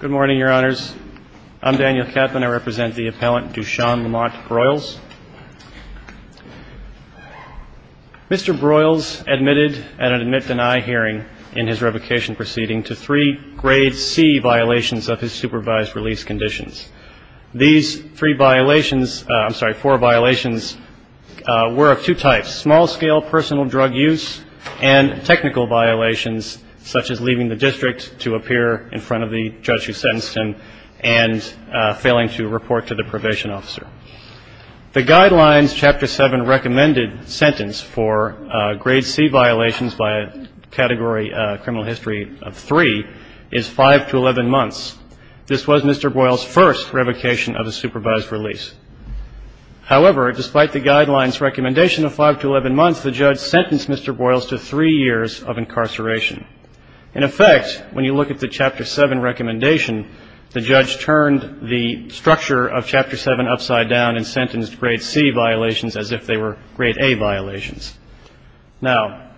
Good morning, your honors. I'm Daniel Kaplan. I represent the appellant Dushan Lamont Broyles. Mr. Broyles admitted at an admit-deny hearing in his revocation proceeding to three grade C violations of his supervised release conditions. These three violations, I'm sorry, four violations, were of two types, small-scale personal drug use and technical violations such as leaving the district to appear in front of the judge's office. He sentenced him and failing to report to the probation officer. The guidelines chapter seven recommended sentence for grade C violations by category criminal history of three is five to 11 months. This was Mr. Broyles' first revocation of a supervised release. However, despite the guidelines recommendation of five to 11 months, the judge sentenced Mr. Broyles to three years of incarceration. In effect, when you look at the chapter seven recommendation, the judge turned the structure of chapter seven upside down and sentenced grade C violations as if they were grade A violations. Now,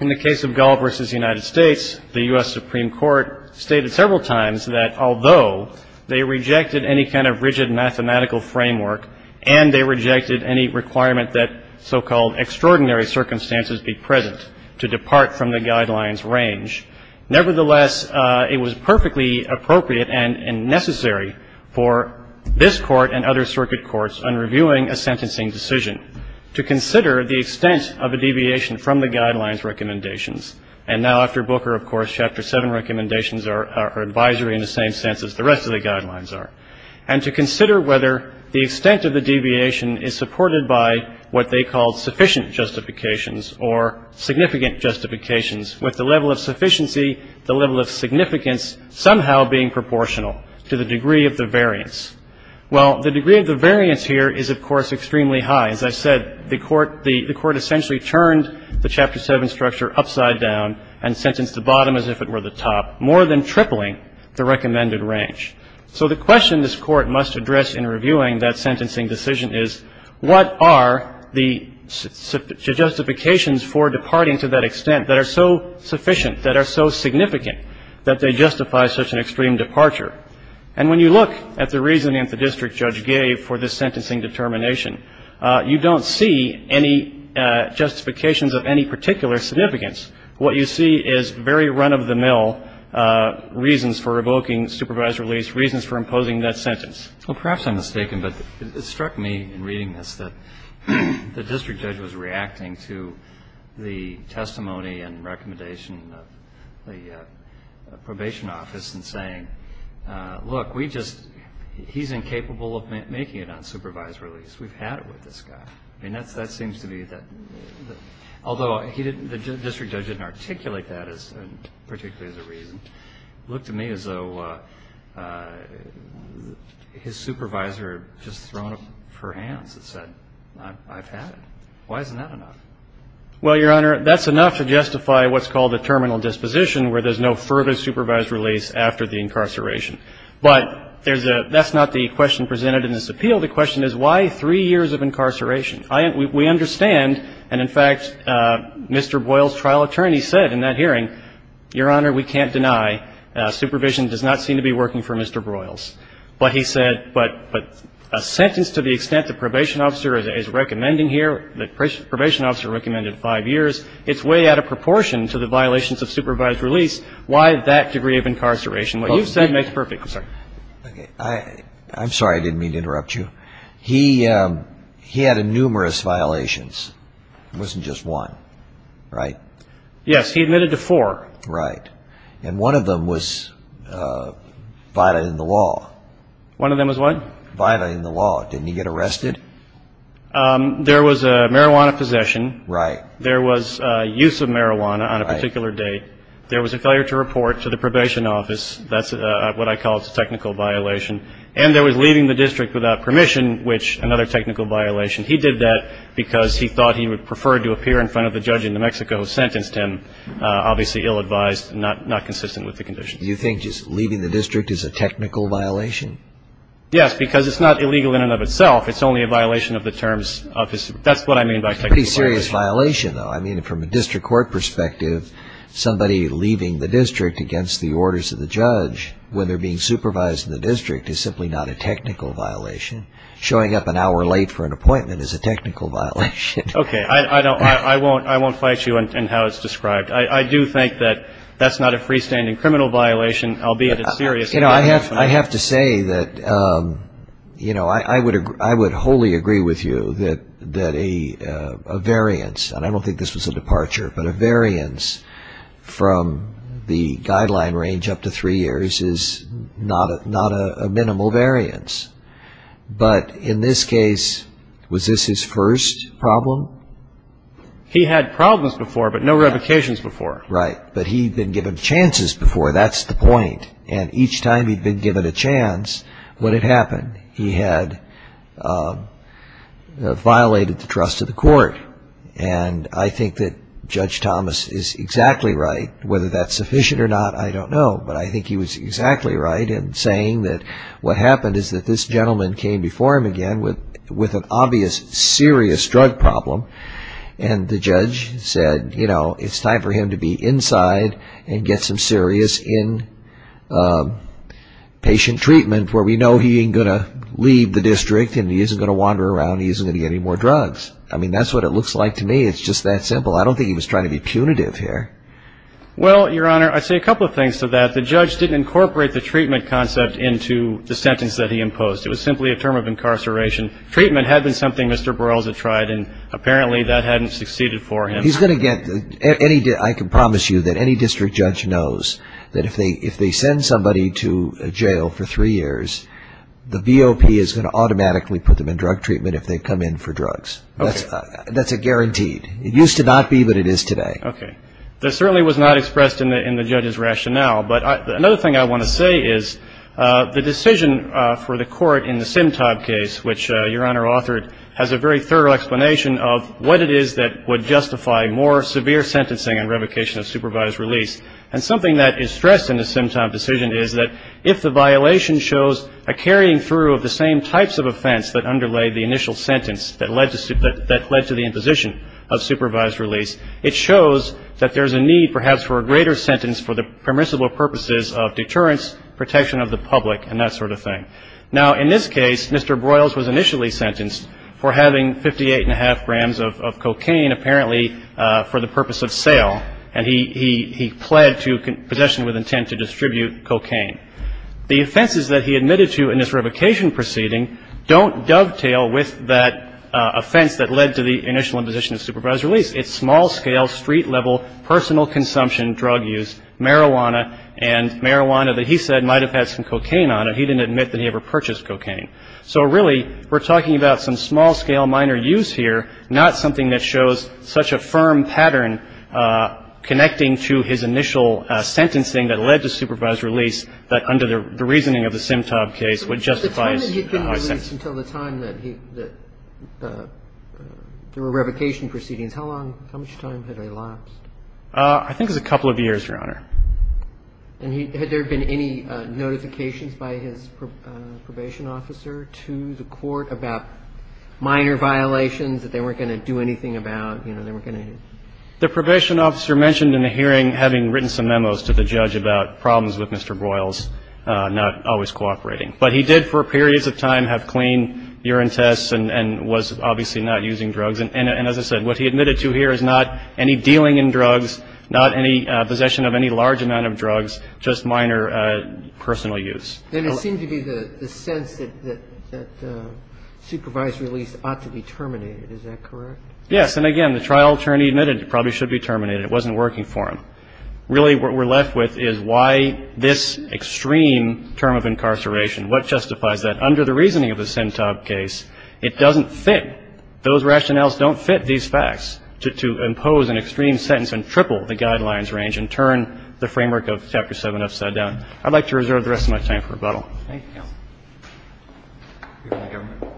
in the case of Gall v. United States, the U.S. Supreme Court stated several times that although they rejected any kind of rigid mathematical framework and they rejected any requirement that so-called extraordinary circumstances be present to depart from the guidelines range, nevertheless, it was perfectly appropriate and necessary for this Court and other circuit courts on reviewing a sentencing decision. To consider the extent of a deviation from the guidelines recommendations. And now after Booker, of course, chapter seven recommendations are advisory in the same sense as the rest of the guidelines are. And to consider whether the extent of the deviation is supported by what they call sufficient justifications or significant justifications with the level of sufficiency, the level of significance somehow being proportional to the degree of the variance. Well, the degree of the variance here is, of course, extremely high. As I said, the Court essentially turned the chapter seven structure upside down and sentenced the bottom as if it were the top, more than tripling the recommended range. So the question this Court must address in reviewing that sentencing decision is, what are the justifications for departing to that extent that are so sufficient, that are so significant, that they justify such an extreme departure? And when you look at the reasoning that the district judge gave for this sentencing determination, you don't see any justifications of any particular significance. What you see is very run-of-the-mill reasons for revoking supervised release, reasons for imposing that sentence. Well, perhaps I'm mistaken, but it struck me in reading this that the district judge was reacting to the testimony and recommendation of the probation office in saying, look, we just he's incapable of making it unsupervised release. We've had it with this guy. I mean, that seems to be that, although the district judge didn't articulate that particularly as a reason, it looked to me as though his supervisor had just thrown up her hands and said, I've had it. Why isn't that enough? Well, Your Honor, that's enough to justify what's called a terminal disposition, where there's no further supervised release after the incarceration. But that's not the question presented in this appeal. The question is, why three years of incarceration? We understand, and in fact, Mr. Broyles' trial attorney said in that hearing, Your Honor, we can't deny. Supervision does not seem to be working for Mr. Broyles. But he said, but a sentence to the extent the probation officer is recommending here, the probation officer recommended five years, it's way out of proportion to the violations of supervised release. Why that degree of incarceration? What you've said makes perfect sense. I'm sorry. I didn't mean to interrupt you. He had numerous violations. It wasn't just one, right? Yes, he admitted to four. Right. And one of them was violated in the law. One of them was what? Violated in the law. Didn't he get arrested? There was a marijuana possession. Right. There was use of marijuana on a particular date. There was a failure to report to the probation office. That's what I call a technical violation. And there was leaving the district without permission, which another technical violation. He did that because he thought he would prefer to appear in front of the judge in New Mexico who sentenced him, obviously ill-advised and not consistent with the conditions. Do you think just leaving the district is a technical violation? Yes, because it's not illegal in and of itself. It's only a violation of the terms. That's what I mean by technical violation. It's a pretty serious violation, though. I mean, from a district court perspective, somebody leaving the district against the orders of the judge when they're being supervised in the district is simply not a technical violation. Showing up an hour late for an appointment is a technical violation. Okay. I won't fight you in how it's described. I do think that that's not a freestanding criminal violation, albeit it's serious. You know, I have to say that, you know, I would wholly agree with you that a variance, and I don't think this was a departure, but a variance from the guideline range up to three years is not a minimal variance. But in this case, was this his first problem? He had problems before, but no revocations before. Right. But he'd been given chances before. That's the point. And each time he'd been given a chance, what had happened? He had violated the trust of the court. And I think that Judge Thomas is exactly right. Whether that's sufficient or not, I don't know. But I think he was exactly right in saying that what happened is that this gentleman came before him again with an obvious serious drug problem, and the judge said, you know, it's time for him to be inside and get some serious inpatient treatment, where we know he ain't going to leave the district and he isn't going to wander around, he isn't going to get any more drugs. I mean, that's what it looks like to me. It's just that simple. I don't think he was trying to be punitive here. Well, Your Honor, I'd say a couple of things to that. The judge didn't incorporate the treatment concept into the sentence that he imposed. It was simply a term of incarceration. Treatment had been something Mr. Borrella had tried, and apparently that hadn't succeeded for him. He's going to get any – I can promise you that any district judge knows that if they send somebody to jail for three years, the VOP is going to automatically put them in drug treatment if they come in for drugs. Okay. That's a guarantee. It used to not be, but it is today. Okay. That certainly was not expressed in the judge's rationale. But another thing I want to say is the decision for the court in the Simtob case, which Your Honor authored, has a very thorough explanation of what it is that would justify more severe sentencing and revocation of supervised release. And something that is stressed in the Simtob decision is that if the violation shows a carrying through of the same types of offense that underlay the initial sentence that led to the imposition of supervised release, it shows that there's a need perhaps for a greater sentence for the permissible purposes of deterrence, protection of the public, and that sort of thing. Now, in this case, Mr. Broyles was initially sentenced for having 58 and a half grams of cocaine, apparently for the purpose of sale, and he pled to possession with intent to distribute cocaine. The offenses that he admitted to in this revocation proceeding don't dovetail with that offense that led to the initial imposition of supervised release. It's small-scale, street-level, personal consumption, drug use, marijuana, and marijuana that he said might have had some cocaine on it. He didn't admit that he ever purchased cocaine. So really, we're talking about some small-scale, minor use here, not something that shows such a firm pattern connecting to his initial sentencing that led to supervised release that under the reasoning of the Simtob case would justify his sentence. But the time that he'd been released until the time that he – that there were revocation proceedings, how long – how much time had elapsed? I think it was a couple of years, Your Honor. And he – had there been any notifications by his probation officer to the court about minor violations that they weren't going to do anything about, you know, they weren't going to? The probation officer mentioned in the hearing, having written some memos to the judge about problems with Mr. Boyles not always cooperating. But he did for periods of time have clean urine tests and was obviously not using drugs. And as I said, what he admitted to here is not any dealing in drugs, not any possession of any large amount of drugs, just minor personal use. Then it seemed to be the sense that supervised release ought to be terminated. Is that correct? Yes. And again, the trial attorney admitted it probably should be terminated. It wasn't working for him. Really, what we're left with is why this extreme term of incarceration, what justifies that? And under the reasoning of the Sentab case, it doesn't fit. Those rationales don't fit these facts to impose an extreme sentence and triple the guidelines range and turn the framework of Chapter 7 upside down. I'd like to reserve the rest of my time for rebuttal. Thank you, counsel. Thank you, counsel.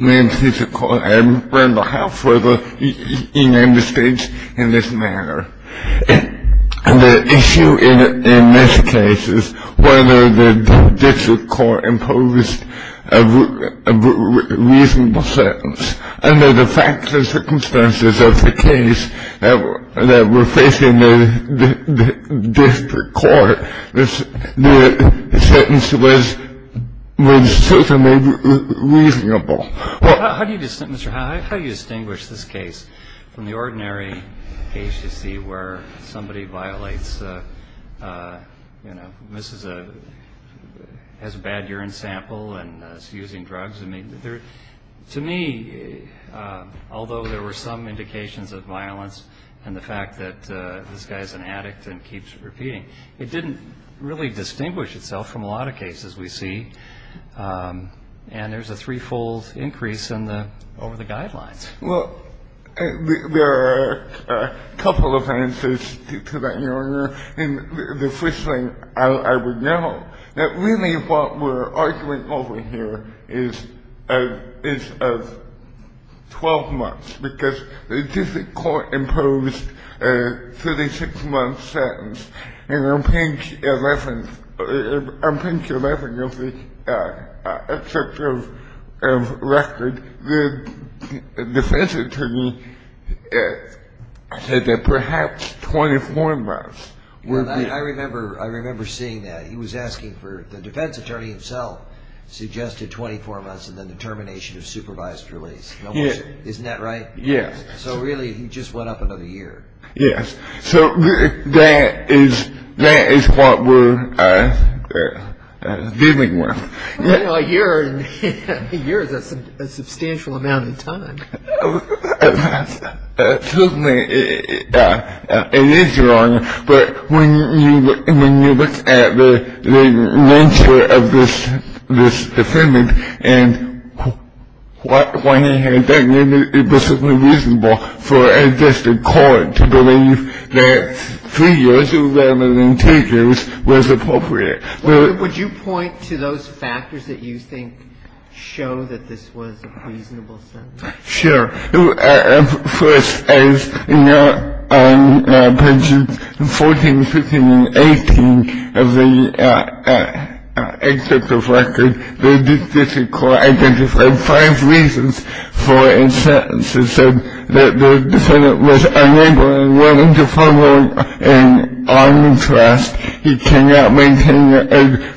May it please the Court. I am on behalf of the United States in this matter. The issue in this case is whether the district court imposed a reasonable sentence. Under the facts and circumstances of the case that we're facing, the district court, the sentence was reasonably reasonable. How do you distinguish this case from the ordinary case you see where somebody violates, you know, misses a bad urine sample and is using drugs? To me, although there were some indications of violence and the fact that this guy is an addict and keeps repeating, it didn't really distinguish itself from a lot of cases we see, and there's a threefold increase over the guidelines. Well, there are a couple of answers to that, Your Honor. And the first thing I would note that really what we're arguing over here is of 12 months because the district court imposed a 36-month sentence, and on page 11 of the excerpt of record, the defense attorney said that perhaps 24 months would be. I remember seeing that. He was asking for the defense attorney himself suggested 24 months and then the termination of supervised release. Isn't that right? Yes. So really he just went up another year. Yes. So that is what we're dealing with. You know, a year is a substantial amount of time. Certainly it is, Your Honor, but when you look at the nature of this defendant and why he had that reason, it was certainly reasonable for a district court to believe that three years rather than two years was appropriate. Would you point to those factors that you think show that this was a reasonable sentence? Sure. First, as noted on pages 14, 15, and 18 of the excerpt of record, the district court identified five reasons for a sentence. It said that the defendant was unable and willing to follow an armed arrest. He cannot maintain a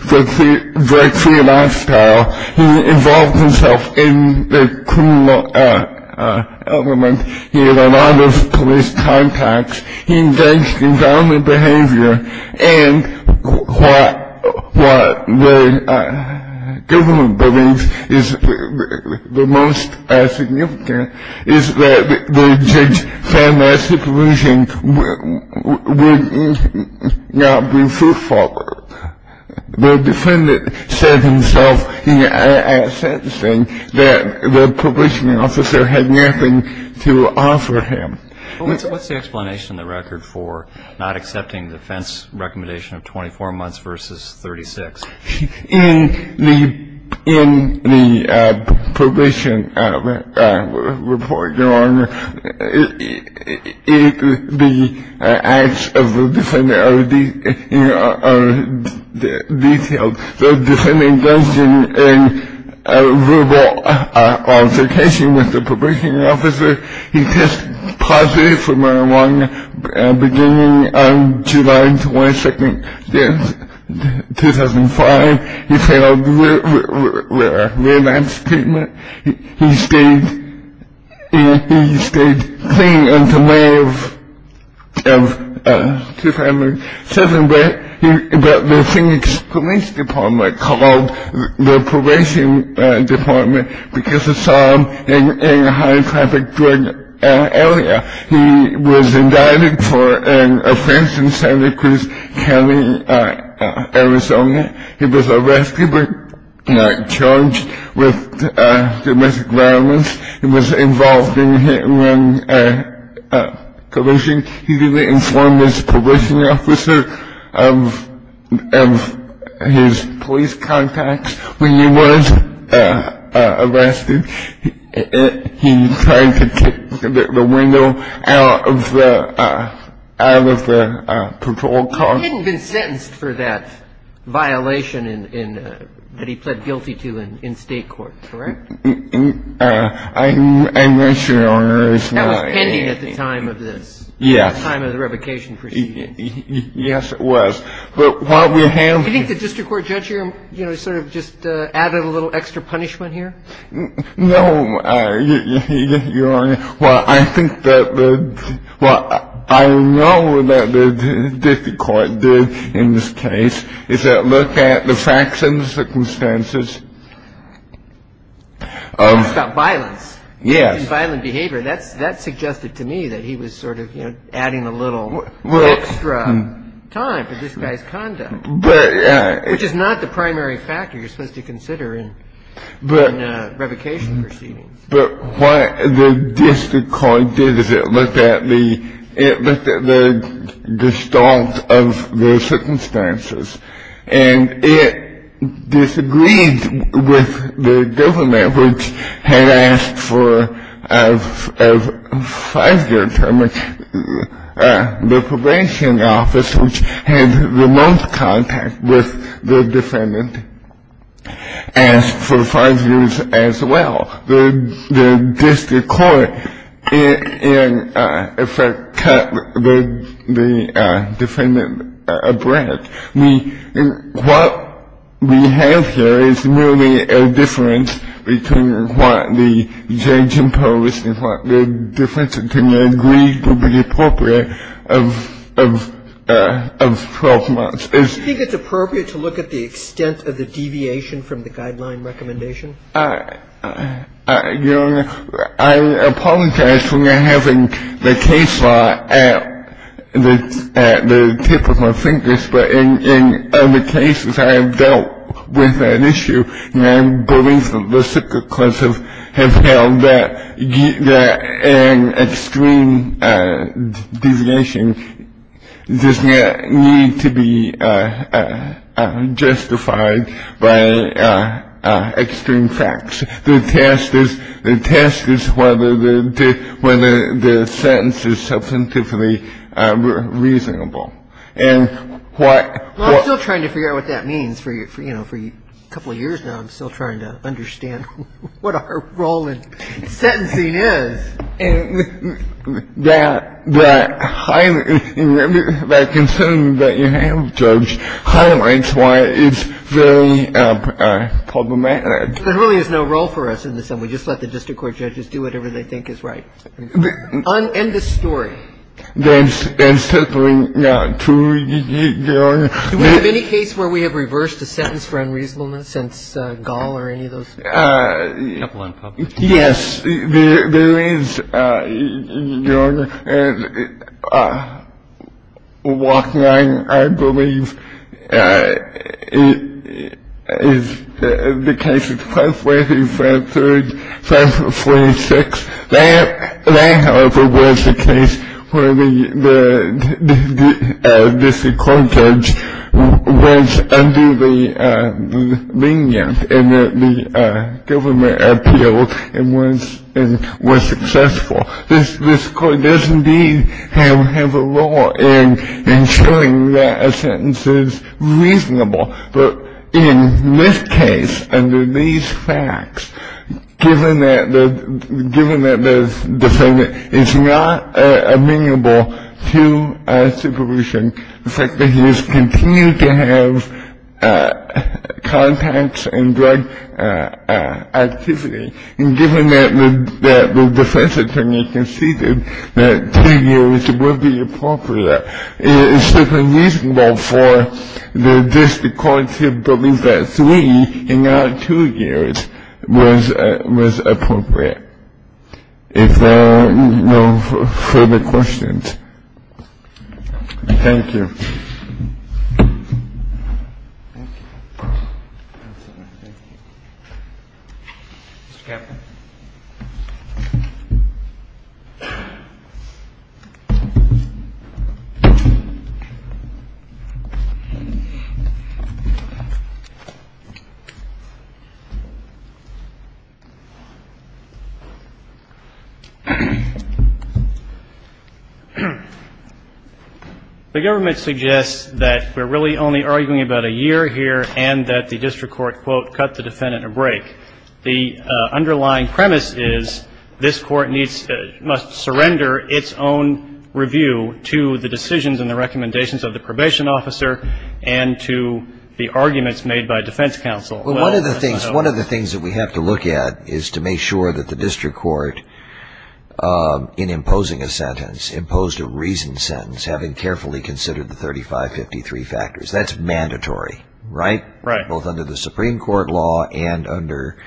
drug-free lifestyle. He involved himself in the criminal element. He had a lot of police contacts. He engaged in violent behavior. And what the government believes is the most significant is that the judge found that supervision would not be fruitful. The defendant said himself in a sentencing that the probation officer had nothing to offer him. What's the explanation in the record for not accepting the defense recommendation of 24 months versus 36? The acts of the defendant are detailed. The defendant goes in a verbal altercation with the probation officer. He tests positive from the beginning of July 22, 2005. He failed relapse treatment. He stayed clean until May of 2007, but the Phoenix Police Department called the probation department because they saw him in a high-traffic drug area. He was indicted for an offense in Santa Cruz County, Arizona. He was arrested and charged with domestic violence. He was involved in hit-and-run collusion. He didn't inform his probation officer of his police contacts when he was arrested. He tried to kick the window out of the patrol car. He had been sentenced for that violation that he pled guilty to in state court, correct? I'm not sure, Your Honor. That was pending at the time of this. Yes. At the time of the revocation proceeding. Yes, it was. Do you think the district court judge sort of just added a little extra punishment here? No, Your Honor. Well, I think that the – well, I know that the district court did in this case, is that look at the facts and the circumstances. It's about violence. Yes. And violent behavior. That suggested to me that he was sort of, you know, adding a little extra time for this guy's conduct. But – Which is not the primary factor you're supposed to consider in revocation proceedings. But what the district court did is it looked at the – it looked at the distort of the circumstances. And it disagreed with the government, which had asked for a five-year term. The probation office, which had the most contact with the defendant, asked for five years as well. The district court, in effect, cut the defendant abreast. What we have here is merely a difference between what the judge imposed and what the defense agreed to be appropriate of 12 months. Do you think it's appropriate to look at the extent of the deviation from the guideline recommendation? Your Honor, I apologize for not having the case law at the tip of my fingers. But in other cases, I have dealt with that issue. And I believe that the district courts have held that an extreme deviation does not need to be justified by extreme facts. The test is whether the sentence is substantively reasonable. And what – Well, I'm still trying to figure out what that means. For, you know, for a couple of years now, I'm still trying to understand what our role in sentencing is. And that – that concern that you have, Judge, highlights why it's very problematic. There really is no role for us in this. We just let the district court judges do whatever they think is right. End of story. There's simply not true, Your Honor. Do we have any case where we have reversed a sentence for unreasonableness since Gall or any of those? A couple of unpublished cases. Block 9, I believe, is the case of 542, 543, 546. That, however, was the case where the district court judge was under the lenient and that the government appealed and was successful. This court does indeed have a role in ensuring that a sentence is reasonable. But in this case, under these facts, given that the defendant is not amenable to supervision, the fact that he has continued to have contacts and drug activity, and given that the defense attorney conceded that two years would be appropriate, it's just unreasonable for the district court to believe that three and not two years was appropriate. If there are no further questions. Thank you. Thank you. Counsel, I thank you. Mr. Kavanagh. Thank you. The government suggests that we're really only arguing about a year here and that the district court, quote, cut the defendant a break. The underlying premise is this court must surrender its own review to the decisions and the recommendations of the probation officer and to the arguments made by defense counsel. Well, one of the things that we have to look at is to make sure that the district court, in imposing a sentence, imposed a reasoned sentence, having carefully considered the 3553 factors. That's mandatory, right? Right. Both under the Supreme Court law and under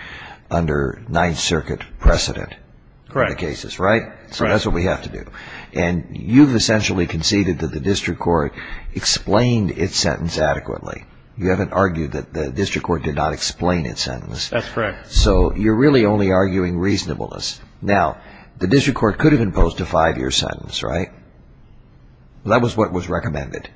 Ninth Circuit precedent. Correct. In the cases, right? So that's what we have to do. And you've essentially conceded that the district court explained its sentence adequately. You haven't argued that the district court did not explain its sentence. That's correct. So you're really only arguing reasonableness. Now, the district court could have imposed a five-year sentence, right? That was what was recommended.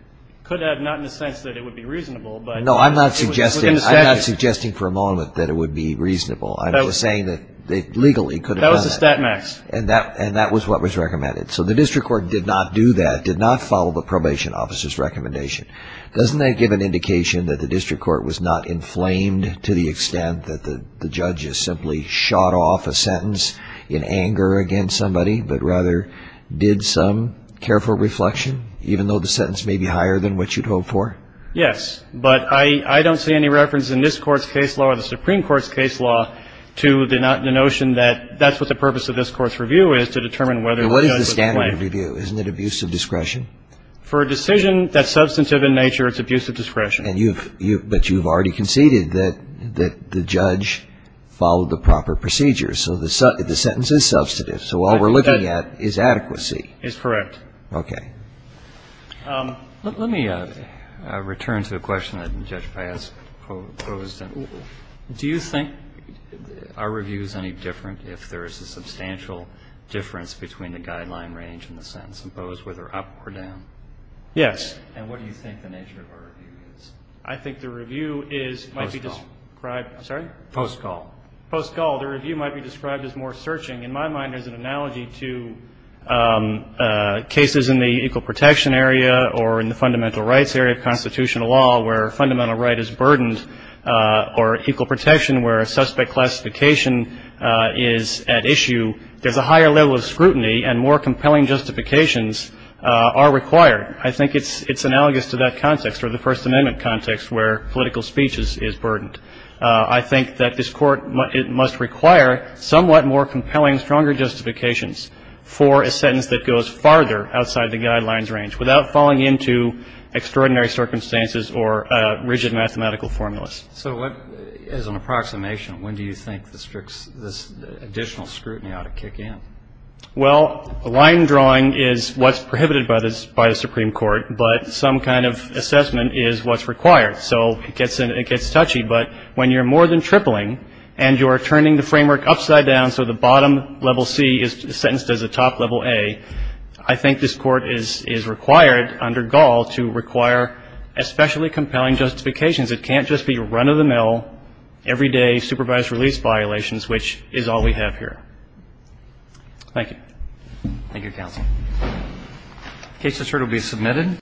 Could have, not in the sense that it would be reasonable. No, I'm not suggesting for a moment that it would be reasonable. I'm just saying that legally it could have done that. That was a stat max. And that was what was recommended. So the district court did not do that, did not follow the probation officer's recommendation. Doesn't that give an indication that the district court was not inflamed to the extent that the judge simply shot off a sentence in anger against somebody, but rather did some careful reflection, even though the sentence may be higher than what you'd hoped for? Yes. But I don't see any reference in this Court's case law or the Supreme Court's case law to the notion that that's what the purpose of this Court's review is, to determine whether the judge was blamed. What is the standard review? Isn't it abuse of discretion? For a decision that's substantive in nature, it's abuse of discretion. But you've already conceded that the judge followed the proper procedure. So the sentence is substantive. So all we're looking at is adequacy. It's correct. Okay. Let me return to a question that Judge Paez posed. Do you think our review is any different if there is a substantial difference between the guideline range and the sentence imposed, whether up or down? Yes. And what do you think the nature of our review is? I think the review is, might be described. Post call. I'm sorry? Post call. Post call. The review might be described as more searching. In my mind, there's an analogy to cases in the equal protection area or in the fundamental rights area of constitutional law where fundamental right is burdened or equal protection where a suspect classification is at issue. There's a higher level of scrutiny and more compelling justifications are required. I think it's analogous to that context or the First Amendment context where political speech is burdened. I think that this Court must require somewhat more compelling, stronger justifications for a sentence that goes farther outside the guidelines range without falling into extraordinary circumstances or rigid mathematical formulas. So what is an approximation? When do you think this additional scrutiny ought to kick in? Well, line drawing is what's prohibited by the Supreme Court, but some kind of assessment is what's required. So it gets touchy, but when you're more than tripling and you're turning the framework upside down so the bottom level C is sentenced as a top level A, I think this Court is required under Gall to require especially compelling justifications. It can't just be run-of-the-mill, everyday, supervised release violations, which is all we have here. Thank you. Thank you, counsel. The case report will be submitted.